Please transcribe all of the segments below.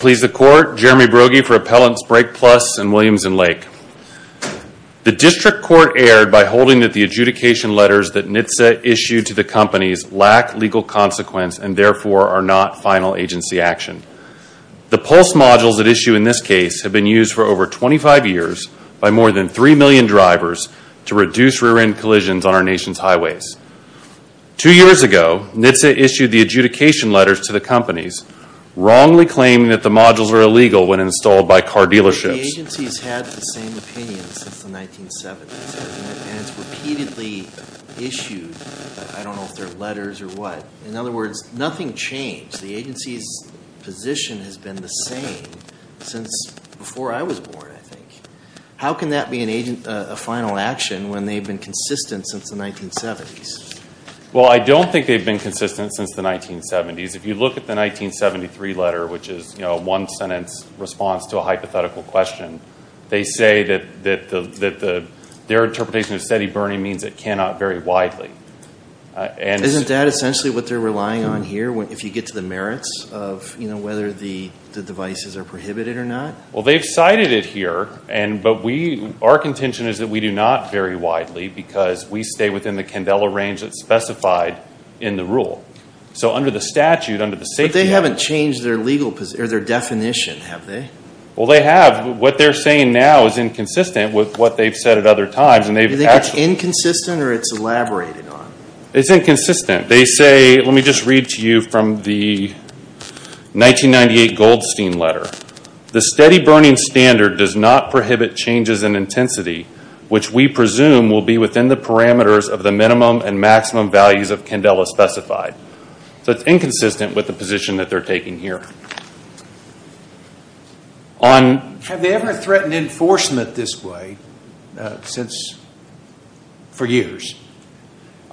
Please the Court, Jeremy Brogy for Appellants Brake Plus and Williams and Lake. The District Court erred by holding that the adjudication letters that NHTSA issued to the companies lack legal consequence and therefore are not final agency action. The Pulse modules at issue in this case have been used for over 25 years by more than three million drivers to reduce rear-end collisions on our nation's highways. Two years ago, NHTSA issued the adjudication letters to the companies, wrongly claiming that the modules are illegal when installed by car dealerships. The agency's had the same opinion since the 1970s, hasn't it? And it's repeatedly issued, I don't know if they're letters or what. In other words, nothing changed. The agency's position has been the same since before I was born, I think. How can that be a final action when they've been consistent since the 1970s? Well, I don't think they've been consistent since the 1970s. If you look at the 1973 letter, which is a one-sentence response to a hypothetical question, they say that their interpretation of steady burning means it cannot vary widely. Isn't that essentially what they're relying on here, if you get to the merits of whether the devices are prohibited or not? Well, they've cited it here, but our contention is that we do not vary widely because we stay within the Candela range that's specified in the rule. So under the statute, under the safety... But they haven't changed their definition, have they? Well, they have. What they're saying now is inconsistent with what they've said at other times. Do you think it's inconsistent or it's elaborated on? It's inconsistent. They say, let me just read to you from the 1998 Goldstein letter. The steady burning standard does not prohibit changes in intensity, which we presume will be within the parameters of the minimum and maximum values of Candela specified. So it's inconsistent with the position that they're taking here. Have they ever threatened enforcement this way for years?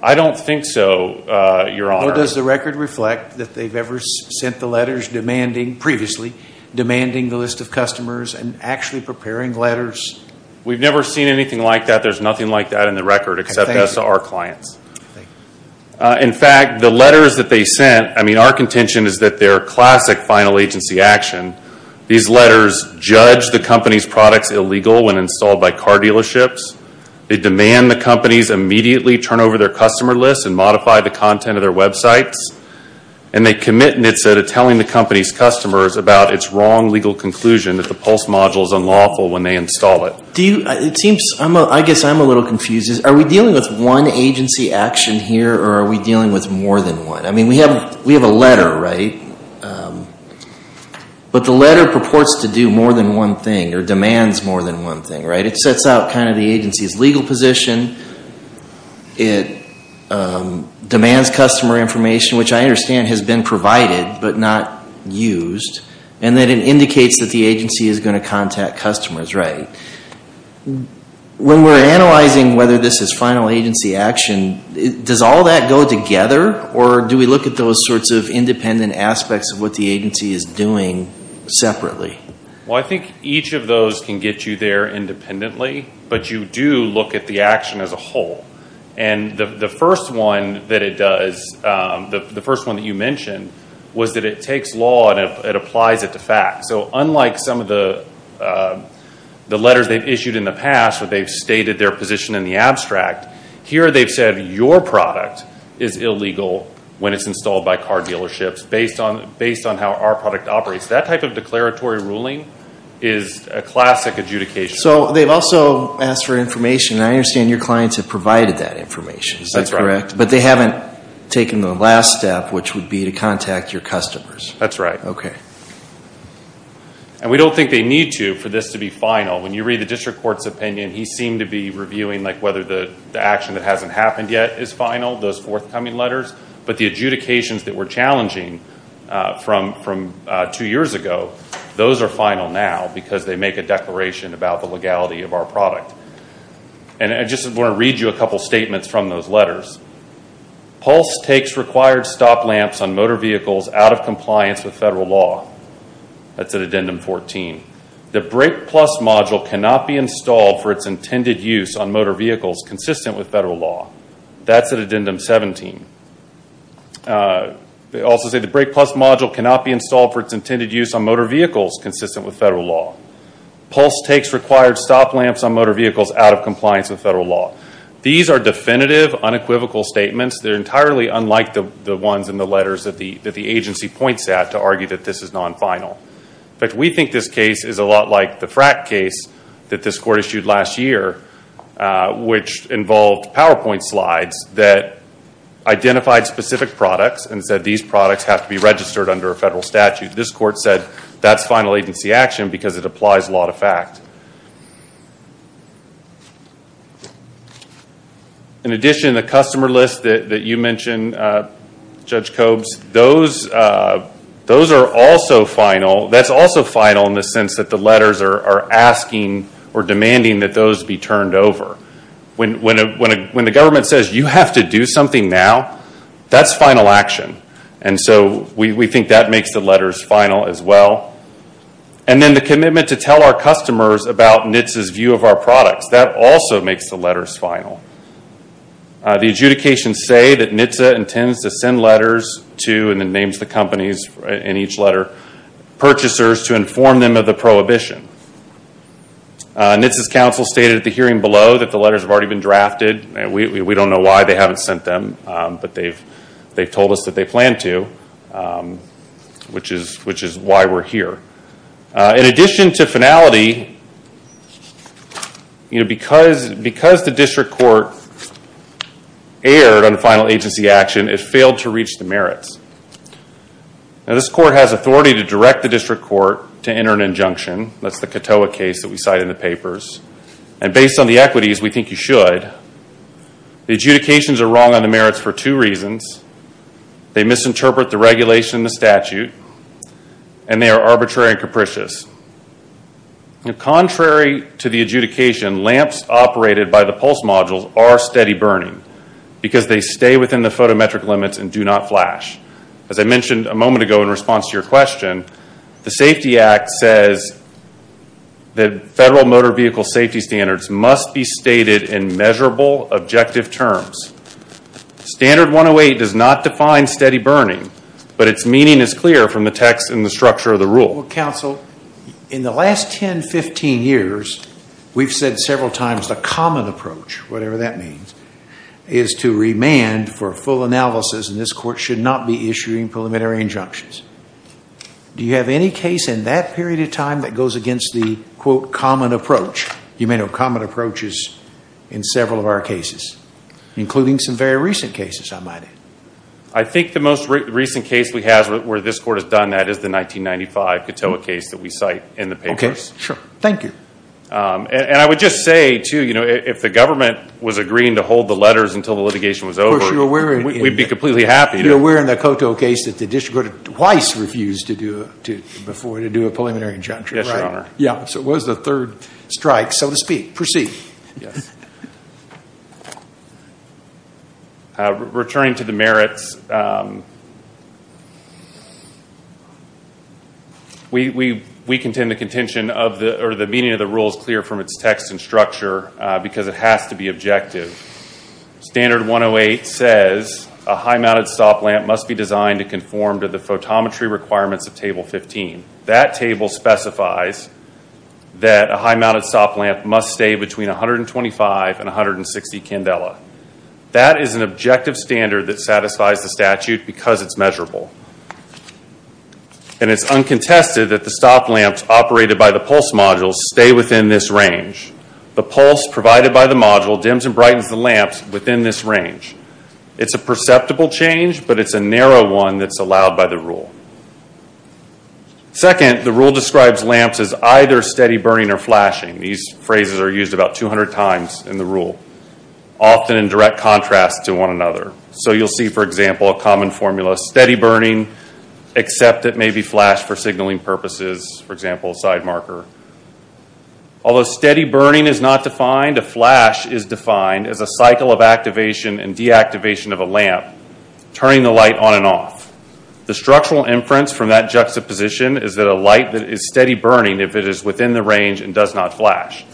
I don't think so, Your Honor. Does the record reflect that they've ever sent the letters demanding, previously, demanding the list of customers and actually preparing letters? We've never seen anything like that. There's nothing like that in the record except that's to our clients. In fact, the letters that they sent, I mean, our contention is that they're classic final agency action. These letters judge the company's products illegal when installed by car dealerships. They demand the companies immediately turn over their customer lists and modify the content of their websites. And they commit nitsa to telling the company's customers about its wrong legal conclusion that the Pulse module is unlawful when they install it. I guess I'm a little confused. Are we dealing with one agency action here or are we dealing with more than one? I mean, we have a letter, right? But the letter purports to do more than one thing or demands more than one thing, right? It sets out kind of the agency's legal position. It demands customer information, which I understand has been provided but not used. And then it indicates that the agency is going to contact customers, right? When we're analyzing whether this is final agency action, does all that go together? Or do we look at those sorts of independent aspects of what the agency is doing separately? Well, I think each of those can get you there independently. But you do look at the action as a whole. And the first one that it does, the first one that you mentioned, was that it takes law and it applies it to fact. So unlike some of the letters they've issued in the past where they've stated their position in the abstract, here they've said your product is illegal when it's installed by car dealerships based on how our product operates. That type of declaratory ruling is a classic adjudication. So they've also asked for information, and I understand your clients have provided that information. Is that correct? That's right. But they haven't taken the last step, which would be to contact your customers. That's right. Okay. And we don't think they need to for this to be final. When you read the district court's opinion, he seemed to be reviewing whether the action that hasn't happened yet is final, those forthcoming letters. But the adjudications that were challenging from two years ago, those are final now because they make a declaration about the legality of our product. And I just want to read you a couple statements from those letters. Pulse takes required stop lamps on motor vehicles out of compliance with federal law. That's at addendum 14. The brake plus module cannot be installed for its intended use on motor vehicles consistent with federal law. That's at addendum 17. They also say the brake plus module cannot be installed for its intended use on motor vehicles consistent with federal law. Pulse takes required stop lamps on motor vehicles out of compliance with federal law. These are definitive, unequivocal statements. They're entirely unlike the ones in the letters that the agency points at to argue that this is non-final. In fact, we think this case is a lot like the frack case that this court issued last year, which involved PowerPoint slides that identified specific products and said these products have to be registered under a federal statute. This court said that's final agency action because it applies law to fact. In addition, the customer list that you mentioned, Judge Cobes, those are also final. That's also final in the sense that the letters are asking or demanding that those be turned over. When the government says you have to do something now, that's final action. We think that makes the letters final as well. Then the commitment to tell our customers about NHTSA's view of our products, that also makes the letters final. The adjudications say that NHTSA intends to send letters to and then names the companies in each letter, purchasers to inform them of the prohibition. NHTSA's counsel stated at the hearing below that the letters have already been drafted. We don't know why they haven't sent them, but they've told us that they plan to, which is why we're here. In addition to finality, because the district court erred on the final agency action, it failed to reach the merits. This court has authority to direct the district court to enter an injunction. That's the Catoa case that we cite in the papers. Based on the equities, we think you should. The adjudications are wrong on the merits for two reasons. They misinterpret the regulation and the statute, and they are arbitrary and capricious. Contrary to the adjudication, lamps operated by the pulse modules are steady burning because they stay within the photometric limits and do not flash. As I mentioned a moment ago in response to your question, the Safety Act says that federal motor vehicle safety standards must be stated in measurable, objective terms. Standard 108 does not define steady burning, but its meaning is clear from the text and the structure of the rule. Counsel, in the last 10, 15 years, we've said several times the common approach, whatever that means, is to remand for full analysis, and this court should not be issuing preliminary injunctions. Do you have any case in that period of time that goes against the, quote, common approach? You may know common approaches in several of our cases, including some very recent cases, I might add. I think the most recent case we have where this court has done that is the 1995 Catoa case that we cite in the papers. Okay. Sure. Thank you. And I would just say, too, if the government was agreeing to hold the letters until the litigation was over, we'd be completely happy. You're aware in the Catoa case that the district court twice refused to do a preliminary injunction, right? Yeah, so it was the third strike, so to speak. Proceed. Returning to the merits, we contend the meaning of the rule is clear from its text and structure because it has to be objective. Standard 108 says a high-mounted stop lamp must be designed to conform to the photometry requirements of Table 15. That table specifies that a high-mounted stop lamp must stay between 125 and 160 candela. That is an objective standard that satisfies the statute because it's measurable. And it's uncontested that the stop lamps operated by the pulse modules stay within this range. The pulse provided by the module dims and brightens the lamps within this range. It's a perceptible change, but it's a narrow one that's allowed by the rule. Second, the rule describes lamps as either steady burning or flashing. These phrases are used about 200 times in the rule, often in direct contrast to one another. So you'll see, for example, a common formula, steady burning, except it may be flashed for signaling purposes, for example, a side marker. Although steady burning is not defined, a flash is defined as a cycle of activation and deactivation of a lamp, turning the light on and off. The structural inference from that juxtaposition is that a light that is steady burning, if it is within the range and does not flash.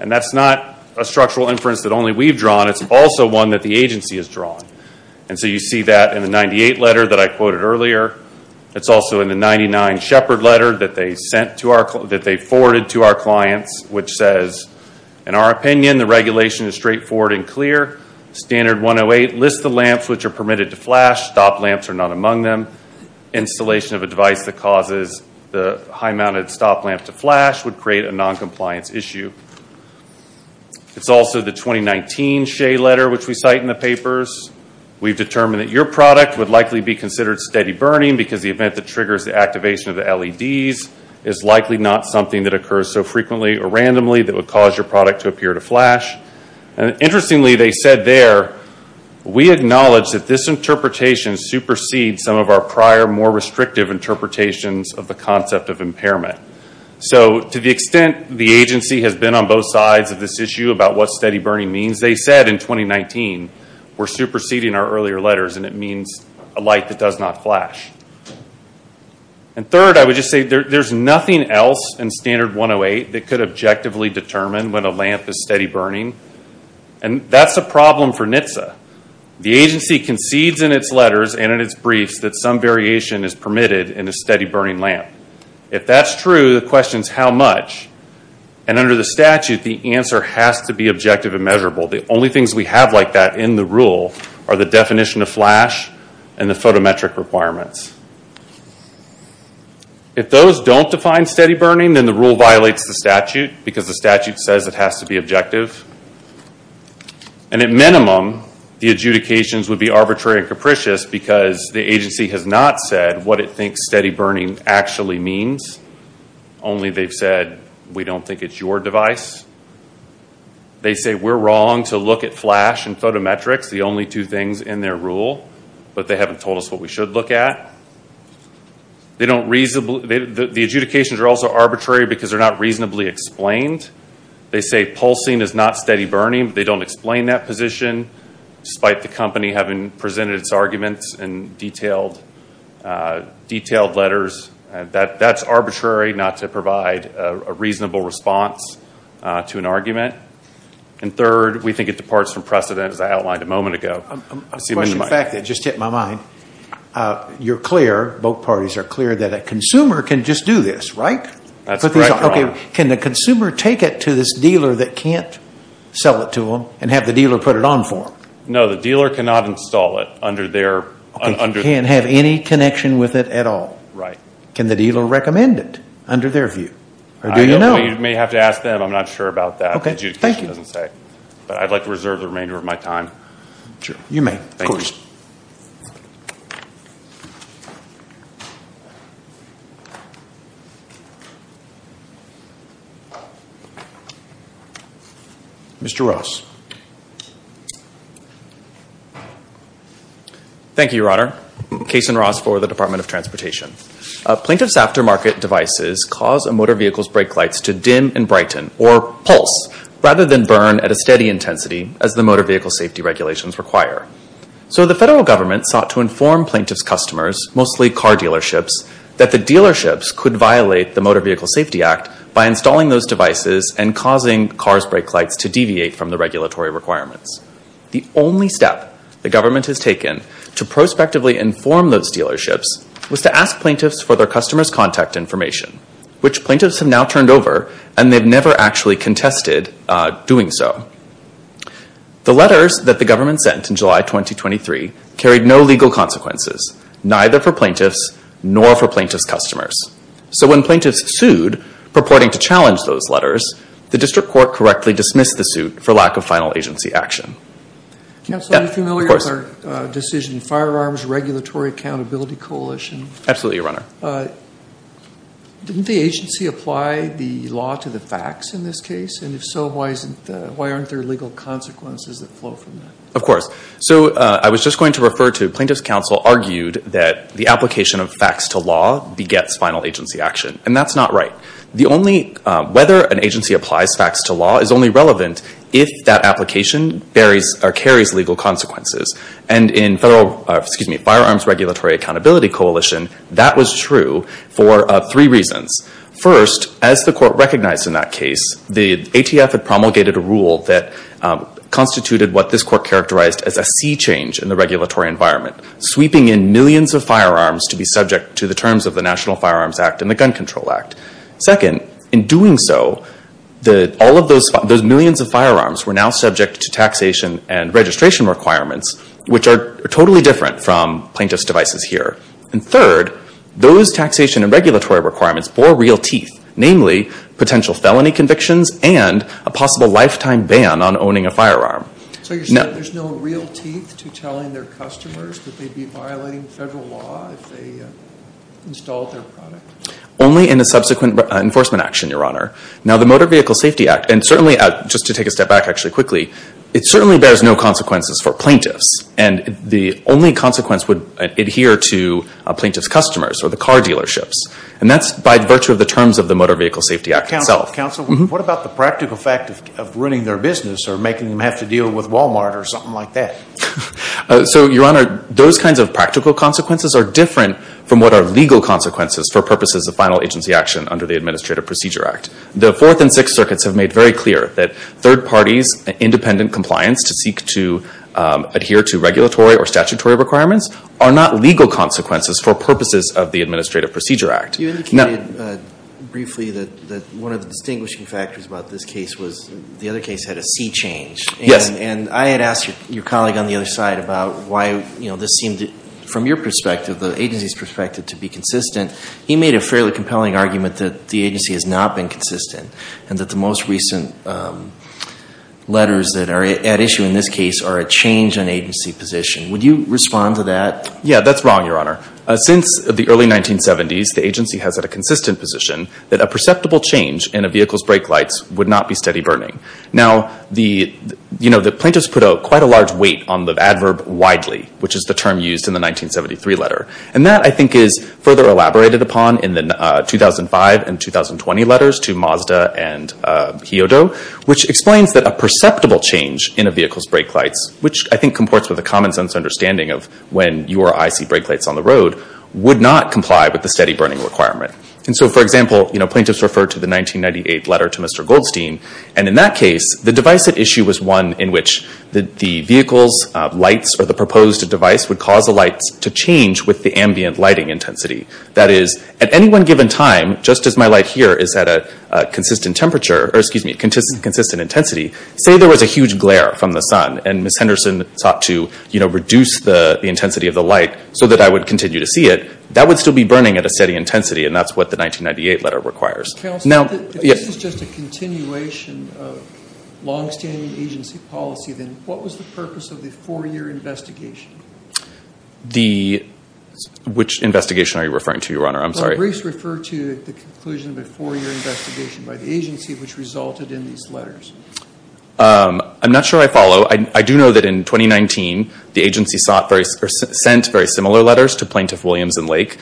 And that's not a structural inference that only we've drawn. It's also one that the agency has drawn. And so you see that in the 98 letter that I quoted earlier. It's also in the 99 shepherd letter that they forwarded to our clients, which says, in our opinion, the regulation is straightforward and clear. Standard 108 lists the lamps which are permitted to flash. Stop lamps are not among them. Installation of a device that causes the high-mounted stop lamp to flash would create a non-compliance issue. It's also the 2019 Shea letter, which we cite in the papers. We've determined that your product would likely be considered steady burning because the event that triggers the activation of the LEDs is likely not something that occurs so frequently or randomly that would cause your product to appear to flash. Interestingly, they said there, we acknowledge that this interpretation supersedes some of our prior, more restrictive interpretations of the concept of impairment. So to the extent the agency has been on both sides of this issue about what steady burning means, they said in 2019, we're superseding our earlier letters and it means a light that does not flash. And third, I would just say there's nothing else in Standard 108 that could objectively determine when a lamp is steady burning. And that's a problem for NHTSA. The agency concedes in its letters and in its briefs that some variation is permitted in a steady burning lamp. If that's true, the question is how much? And under the statute, the answer has to be objective and measurable. The only things we have like that in the rule are the definition of flash and the photometric requirements. If those don't define steady burning, then the rule violates the statute because the statute says it has to be objective. And at minimum, the adjudications would be arbitrary and capricious because the agency has not said what it thinks steady burning actually means. Only they've said, we don't think it's your device. They say we're wrong to look at flash and photometrics. The only two things in their rule. But they haven't told us what we should look at. The adjudications are also arbitrary because they're not reasonably explained. They say pulsing is not steady burning, but they don't explain that position despite the company having presented its arguments in detailed letters. That's arbitrary not to provide a reasonable response to an argument. And third, we think it departs from precedent as I outlined a moment ago. You're clear, both parties are clear that a consumer can just do this, right? Can the consumer take it to this dealer that can't sell it to them and have the dealer put it on for them? No, the dealer cannot install it. They can't have any connection with it at all. Can the dealer recommend it under their view? You may have to ask them. I'm not sure about that. I'd like to reserve the remainder of my time. Thank you, Your Honor. Case in Ross for the Department of Transportation. Plaintiffs' aftermarket devices cause a motor vehicle's brake lights to dim and brighten, or pulse, rather than burn at a steady intensity as the motor vehicle safety regulations require. So the federal government sought to inform plaintiffs' customers, mostly car dealerships, that the dealerships could violate the Motor Vehicle Safety Act by installing those devices and causing cars' brake lights to deviate from the regulatory requirements. The only step the government has taken to prospectively inform those dealerships was to ask plaintiffs for their customers' contact information, which plaintiffs have now turned over and they've never actually contested doing so. The letters that the government sent in July 2023 carried no legal consequences, neither for plaintiffs nor for plaintiffs' customers. So when plaintiffs sued purporting to challenge those letters, the district court correctly dismissed the suit for lack of final agency action. Counsel, are you familiar with our decision, Firearms Regulatory Accountability Coalition? Absolutely, Your Honor. Didn't the agency apply the law to the facts in this case? And if so, why aren't there legal consequences that flow from that? Of course. So I was just going to refer to the fact that the plaintiffs' counsel argued that the application of facts to law begets final agency action. And that's not right. Whether an agency applies facts to law is only relevant if that application carries legal consequences. And in Firearms Regulatory Accountability Coalition, that was true for three reasons. First, as the court recognized in that case, the ATF had promulgated a rule that constituted what this court characterized as a sea change in the regulatory environment, sweeping in millions of firearms to be subject to the terms of the National Firearms Act and the Gun Control Act. Second, in doing so, those millions of firearms were now subject to taxation and registration requirements, which are totally different from plaintiffs' devices here. And third, those taxation and regulatory requirements bore real teeth, namely potential felony convictions and a possible lifetime ban on owning a firearm. So you're saying there's no real teeth to telling their customers that they'd be violating federal law if they installed their product? Only in a subsequent enforcement action, Your Honor. Now, the Motor Vehicle Safety Act, and certainly, just to take a step back actually quickly, it certainly bears no consequences for plaintiffs. And the only consequence would adhere to a plaintiff's customers or the car dealerships. And that's by virtue of the terms of the Motor Vehicle Safety Act itself. Counsel, what about the practical fact of ruining their business or making them have to deal with Walmart or something like that? So, Your Honor, those kinds of practical consequences are different from what are legal consequences for purposes of final agency action under the Administrative Procedure Act. The Fourth and Sixth Circuits have made very clear that third parties' independent compliance to seek to adhere to regulatory or statutory requirements are not legal consequences for purposes of the Administrative Procedure Act. You indicated briefly that one of the distinguishing factors about this case was the other case had a sea change. And I had asked your colleague on the other side about why this seemed, from your perspective, the agency's perspective, to be consistent. He made a fairly compelling argument that the agency has not been consistent and that the most recent letters that are at issue in this case are a change in agency position. Would you respond to that? Yeah, that's wrong, Your Honor. Since the early 1970s, the agency has had a consistent position that a perceptible change in a vehicle's brake lights would not be steady burning. Now, the plaintiffs put quite a large weight on the adverb, widely, which is the term used in the 1973 letter. And that, I think, is further elaborated upon in the 2005 and 2020 letters to Mazda and Hyodo, which explains that a perceptible change in a vehicle's brake lights, which I think comports with a common-sense understanding of when you or I see brake lights on the road, would not comply with the steady burning requirement. And so, for example, plaintiffs refer to the 1998 letter to Mr. Goldstein, and in that case, the device at issue was one in which the vehicle's lights or the proposed device would cause the lights to change with the ambient lighting intensity. That is, at any one given time, just as my light here is at a consistent intensity, say there was a huge glare from the sun and Ms. Henderson sought to reduce the intensity of the light so that I would continue to see it, that would still be burning at a steady intensity, and that's what the 1998 letter requires. If this is just a continuation of long-standing agency policy, then what was the purpose of the four-year investigation? Which investigation are you referring to, Your Honor? I'm sorry. The briefs refer to the conclusion of a four-year investigation by the agency which resulted in these letters. I'm not sure I follow. I do know that in 2019, the agency sent very similar letters to Plaintiff Williams and Lake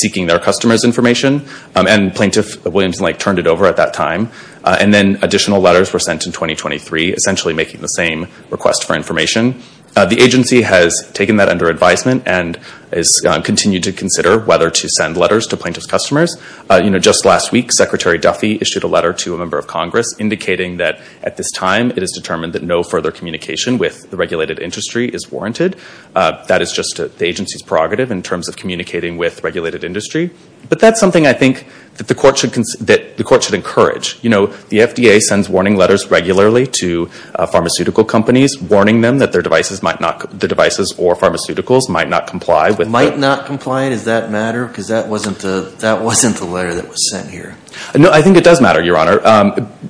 seeking their customers' information, and Plaintiff Williams and Lake turned it over at that time. And then additional letters were sent in 2023, essentially making the same request for information. The agency has taken that under advisement and has continued to consider whether to send letters to plaintiff's customers. You know, just last week, Secretary Duffy issued a letter to a member of Congress indicating that at this time, it is determined that no further communication with the regulated industry is warranted. That is just the agency's prerogative in terms of communicating with regulated industry. But that's something I think that the court should encourage. You know, the FDA sends warning letters regularly to pharmaceutical companies, warning them that their devices or pharmaceuticals might not comply. Might not comply? Does that matter? Because that wasn't the letter that was sent here. No, I think it does matter, Your Honor.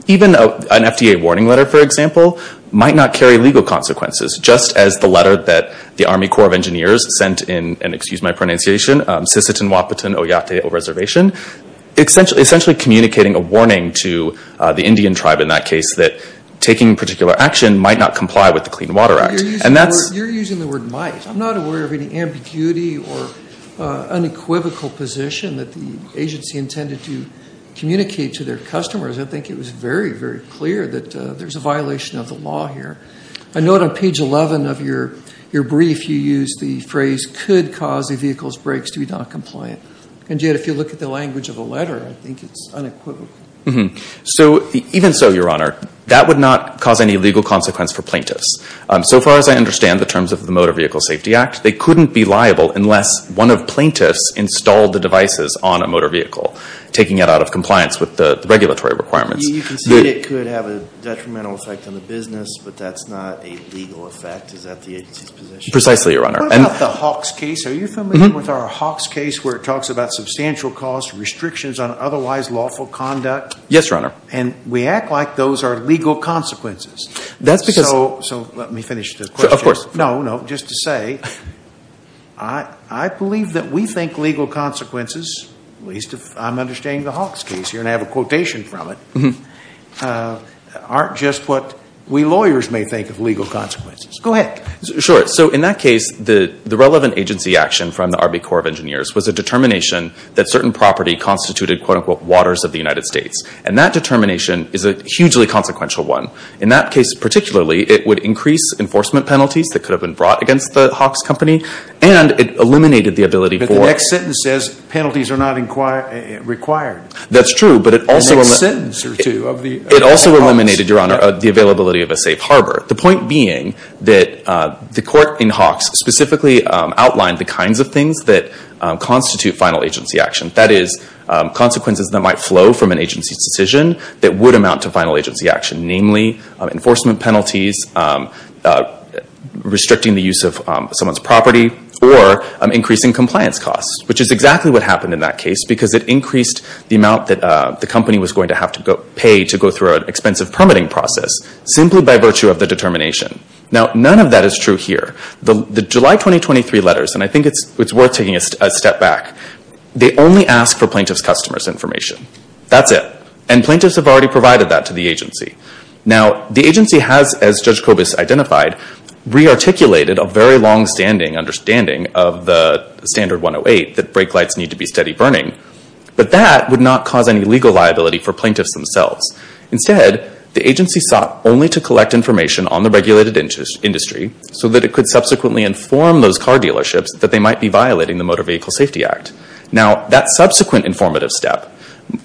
Even an FDA warning letter, for example, might not carry legal consequences, just as the letter that the Army Corps of Engineers sent in, excuse my pronunciation, Sisseton-Wapiton Oyate Reservation, essentially communicating a warning to the Indian tribe in that case that taking particular action might not comply with the Clean Water Act. You're using the word might. I'm not aware of any ambiguity or unequivocal position that the agency intended to communicate to their customers. I think it was very, very clear that there's a violation of the law here. I note on page 11 of your brief, you used the phrase, could cause a vehicle's brakes to be noncompliant. And yet, if you look at the language of a letter, I think it's unequivocal. So, even so, Your Honor, that would not cause any legal consequence for plaintiffs. So far as I understand the terms of the Motor Vehicle Safety Act, they couldn't be liable unless one of plaintiffs installed the devices on a motor vehicle, taking it out of compliance with the regulatory requirements. You can say it could have a detrimental effect on the business, but that's not a legal effect. Is that the agency's position? Precisely, Your Honor. What about the Hawks case? Are you familiar with our Hawks case where it talks about substantial costs, restrictions on otherwise lawful conduct? Yes, Your Honor. And we act like those are legal consequences. So, let me finish the question. No, no, just to say, I believe that we think legal consequences, at least if I'm understanding the Hawks case here, and I have a quotation from it, aren't just what we lawyers may think of legal consequences. Go ahead. Sure. So, in that case, the relevant agency action from the Army Corps of Engineers was a determination that certain property constituted quote-unquote waters of the United States. And that determination is a hugely consequential one. In that case, particularly, it would increase enforcement penalties that could have been brought against the Hawks company, and it eliminated the ability for... But the next sentence says penalties are not required. That's true, but it also... The next sentence or two of the Hawks... It also eliminated, Your Honor, the availability of a safe harbor. The point being that the court in Hawks specifically outlined the kinds of things that constitute final agency action. That is, consequences that might flow from an agency's decision that would amount to final agency action. Namely, enforcement penalties, restricting the use of someone's property, or increasing compliance costs, which is exactly what happened in that case because it increased the amount that the company was going to have to pay to go through an expensive permitting process simply by virtue of the determination. Now, none of that is true here. The July 2023 letters, and I think it's worth taking a step back, they only ask for plaintiff's customers' information. That's it. And plaintiffs have already provided that to the agency. Now, the agency has, as Judge Kobus identified, re-articulated a very long-standing understanding of the Standard 108 that brake lights need to be steady burning, but that would not cause any legal liability for plaintiffs themselves. Instead, the agency sought only to collect information on the regulated industry so that it could subsequently inform those car dealerships that they might be violating the Motor Vehicle Safety Act. Now, that subsequent informative step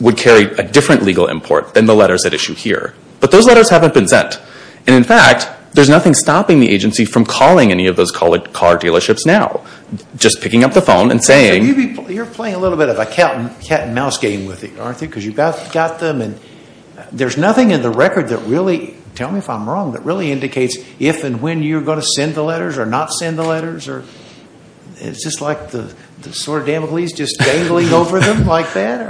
would carry a different legal import than the letters at issue here, but those letters haven't been sent. And in fact, there's nothing stopping the agency from calling any of those car dealerships now, just picking up the phone and saying... You're playing a little bit of a cat-and-mouse game with it, aren't you? Because you've got them, and there's nothing in the record that really, tell me if I'm wrong, that really indicates if and when you're going to send the letters or not send the letters? Is this like the sort of Damocles just dangling over them like that?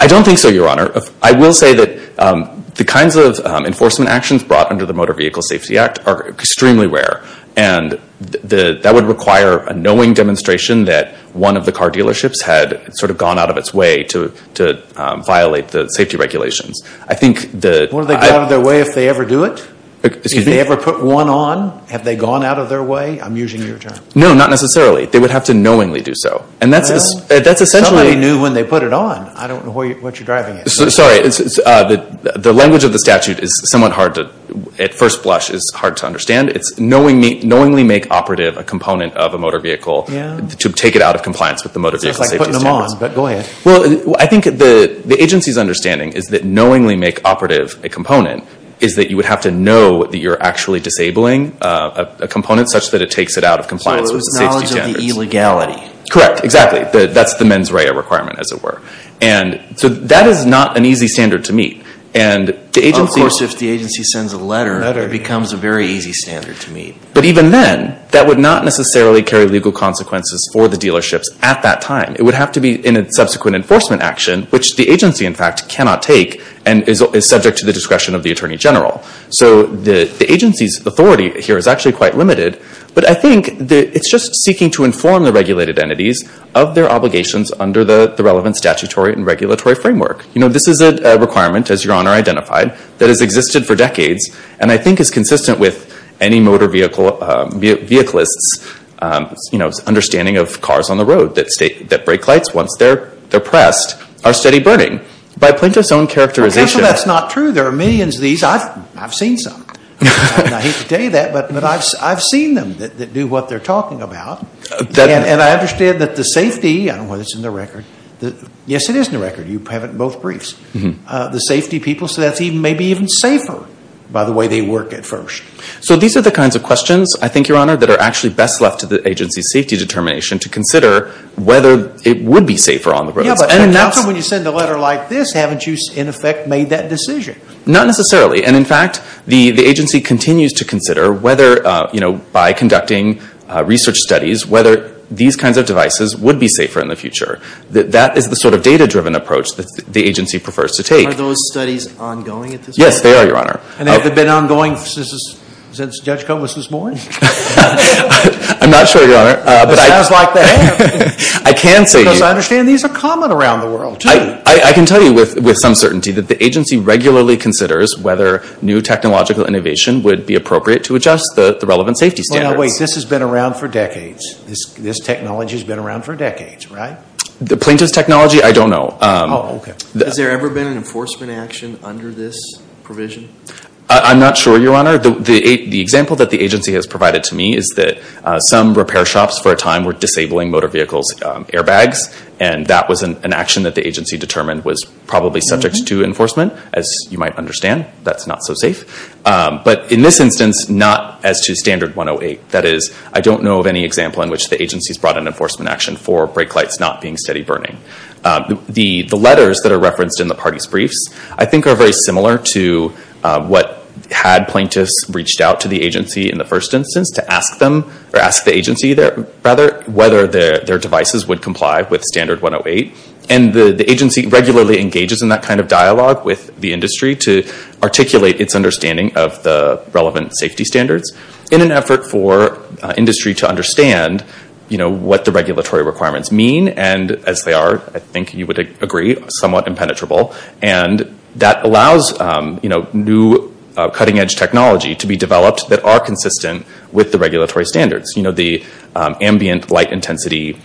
I don't think so, Your Honor. I will say that the kinds of enforcement actions brought under the Motor Vehicle Safety Act are extremely rare. And that would require a knowing demonstration that one of the car dealerships had sort of gone out of its way to violate the safety regulations. Wouldn't they go out of their way if they ever do it? If they ever put one on, have they gone out of their way? I'm using your term. No, not necessarily. They would have to knowingly do so. Somebody knew when they put it on. I don't know what you're driving at. Sorry, the language of the statute is somewhat hard to... At first blush, it's hard to understand. It's knowingly make operative a component of a motor vehicle to take it out of compliance with the Motor Vehicle Safety Standards. It's like putting them on, but go ahead. Well, I think the agency's understanding is that knowingly make operative a component is that you would have to know that you're actually disabling a component such that it takes it out of compliance with the safety standards. So it was knowledge of the illegality. Correct, exactly. That's the mens rea requirement, as it were. So that is not an easy standard to meet. Of course, if the agency sends a letter, it becomes a very easy standard to meet. But even then, that would not necessarily carry legal consequences for the dealerships at that time. It would have to be in a subsequent enforcement action, which the agency, in fact, cannot take and is subject to the discretion of the Attorney General. So the agency's authority here is actually quite limited. But I think it's just seeking to inform the regulated entities of their obligations under the relevant statutory and regulatory framework. This is a requirement, as Your Honor identified, that has existed for decades and I think is consistent with any motor vehicleists' understanding of cars on the road that brake lights, once they're pressed, are steady burning. By plaintiff's own characterization. Counsel, that's not true. There are millions of these. I've seen some. I hate to tell you that, but I've seen them that do what they're talking about. And I understand that the safety, I don't know whether it's in the record. Yes, it is in the record. You have it in both briefs. The safety people, so that's maybe even safer by the way they work at first. So these are the kinds of questions, I think, Your Honor, that are actually best left to the agency's safety determination to consider whether it would be safer on the roads. Yeah, but how come when you send a letter like this haven't you, in effect, made that decision? Not necessarily. And in fact, the agency continues to consider whether, by conducting research studies, whether these kinds of devices would be safer in the future. That is the sort of data-driven approach that the agency prefers to take. Are those studies ongoing at this point? Yes, they are, Your Honor. And have they been ongoing since Judge Cummings was born? I'm not sure, Your Honor. Because I understand these are common around the world, too. I can tell you with some certainty that the agency regularly considers whether new technological innovation would be appropriate to adjust the relevant safety standards. Now wait, this has been around for decades. This technology has been around for decades, right? The plaintiff's technology, I don't know. Has there ever been an enforcement action under this provision? I'm not sure, Your Honor. The example that the agency has provided to me is that some repair shops for a time were disabling motor vehicles' airbags. And that was an action that the agency determined was probably subject to enforcement, as you might understand. That's not so safe. But in this instance, not as to Standard 108. That is, I don't know of any example in which the agency has brought an enforcement action for brake lights not being steady burning. The letters that are referenced in the parties' briefs I think are very similar to what had plaintiffs reached out to the agency in the first instance to ask the agency whether their devices would comply with Standard 108. And the agency regularly engages in that kind of dialogue with the industry to articulate its understanding of the relevant safety standards in an effort for industry to understand what the regulatory requirements mean. And as they are, I think you would agree, somewhat impenetrable. And that allows new cutting-edge technology to be developed that are consistent with the regulatory standards. The ambient light intensity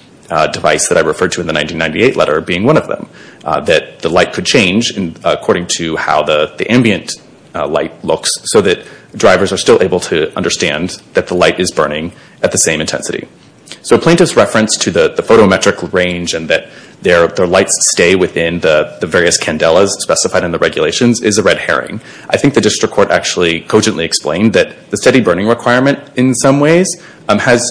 device that I referred to in the 1998 letter being one of them. That the light could change according to how the ambient light looks so that drivers are still able to understand that the light is burning at the same intensity. So a plaintiff's reference to the photometric range and that their lights stay within the various candelas specified in the regulations is a red herring. I think the district court actually cogently explained that the steady burning requirement in some ways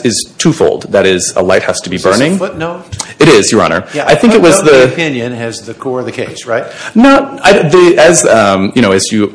is two-fold. That is, a light has to be burning. Is that a footnote? It is, Your Honor. As you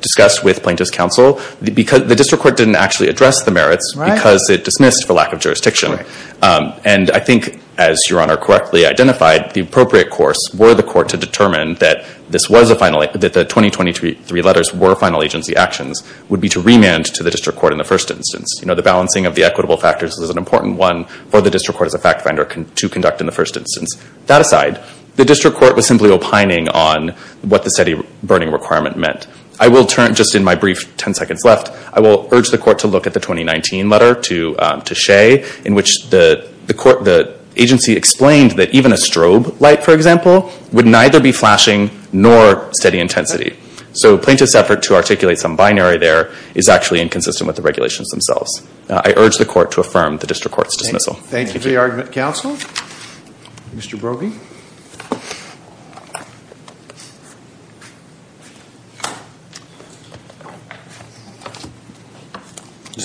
discussed with plaintiff's counsel, the district court didn't actually address the merits because it dismissed for lack of jurisdiction. And I think, as Your Honor correctly identified, the appropriate course were the court to determine that the 2023 letters were final agency actions would be to remand to the district court in the first instance. The balancing of the equitable factors was an important one for the district court as a fact finder to conduct in the first instance. That aside, the district court was simply opining on what the steady burning requirement meant. Just in my brief 10 seconds left, I will urge the court to look at the 2019 letter to Shea in which the agency explained that even a strobe light, for example, would neither be flashing nor steady intensity. So plaintiff's effort to articulate some binary there is actually inconsistent with the regulations themselves. I urge the court to affirm the district court's dismissal. Thank you for the argument, counsel. Just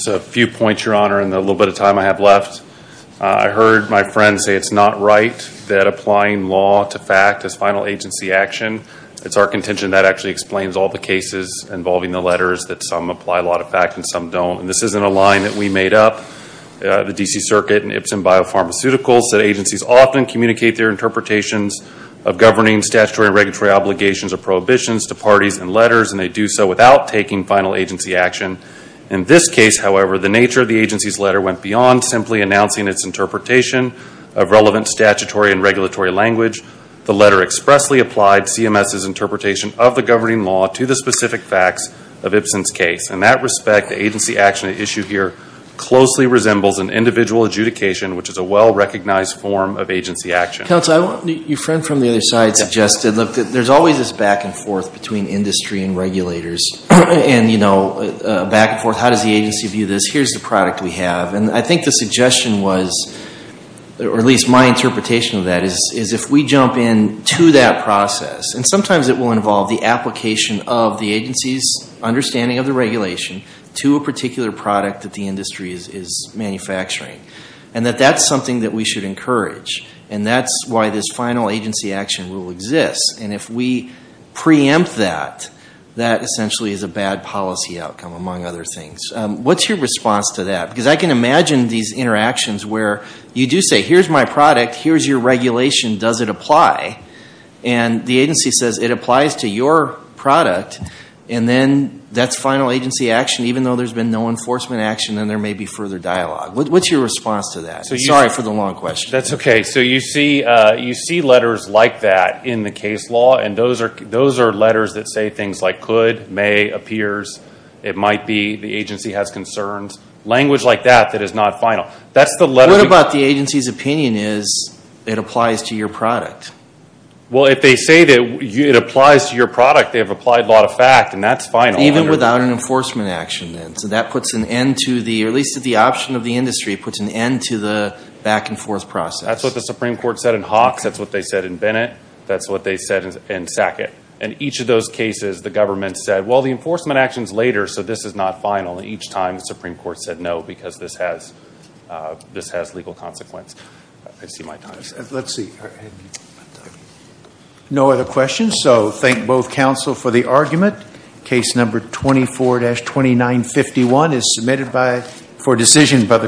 a few points, Your Honor, in the little bit of time I have left. I heard my friend say it's not right that applying law to fact is final agency action. It's our contention that actually explains all the cases involving the letters that some apply law to fact and some don't. This isn't a line that we made up. The D.C. Circuit and Ipsen Biopharmaceuticals said agencies often communicate their interpretations of governing statutory and regulatory obligations or prohibitions to parties and letters and they do so without taking final agency action. In this case, however, the nature of the agency's letter went beyond simply announcing its interpretation of relevant statutory and regulatory language. The letter expressly applied CMS's interpretation of the governing law to the specific facts of Ipsen's case. In that respect, the agency action at issue here closely resembles an individual adjudication which is a well-recognized form of agency action. Counsel, your friend from the other side suggested there's always this back and forth between industry and regulators and, you know, back and forth, how does the agency view this? Here's the product we have. And I think the suggestion was or at least my interpretation of that is if we jump into that process and sometimes it will involve the application of the agency's understanding of the regulation to a particular product that the industry is manufacturing and that that's something that we should encourage and that's why this final agency action rule exists and if we preempt that, that essentially is a bad policy outcome among other things. What's your response to that? Because I can imagine these interactions where you do say, here's my product, here's your regulation does it apply? And the agency says it applies to your product and then that's final agency action even though there's been no enforcement action and there may be further dialogue. What's your response to that? Sorry for the long question. You see letters like that in the case law and those are letters that say things like could, may appears, it might be the agency has concerns language like that that is not final. What about the agency's opinion is it applies to your product? Well if they say that it applies to your product, they have applied law to fact and that's final. Even without an enforcement action then? So that puts an end to the or at least the option of the industry puts an end to the back and forth process. That's what the Supreme Court said in Hawks that's what they said in Bennett, that's what they said in Sackett and each of those cases the government said, well the enforcement action is later so this is not final and each time the Supreme Court said no because this has legal consequence. I see my time is up. No other questions so thank both counsel for the argument. Case number 24-2951 is submitted by for decision by the court.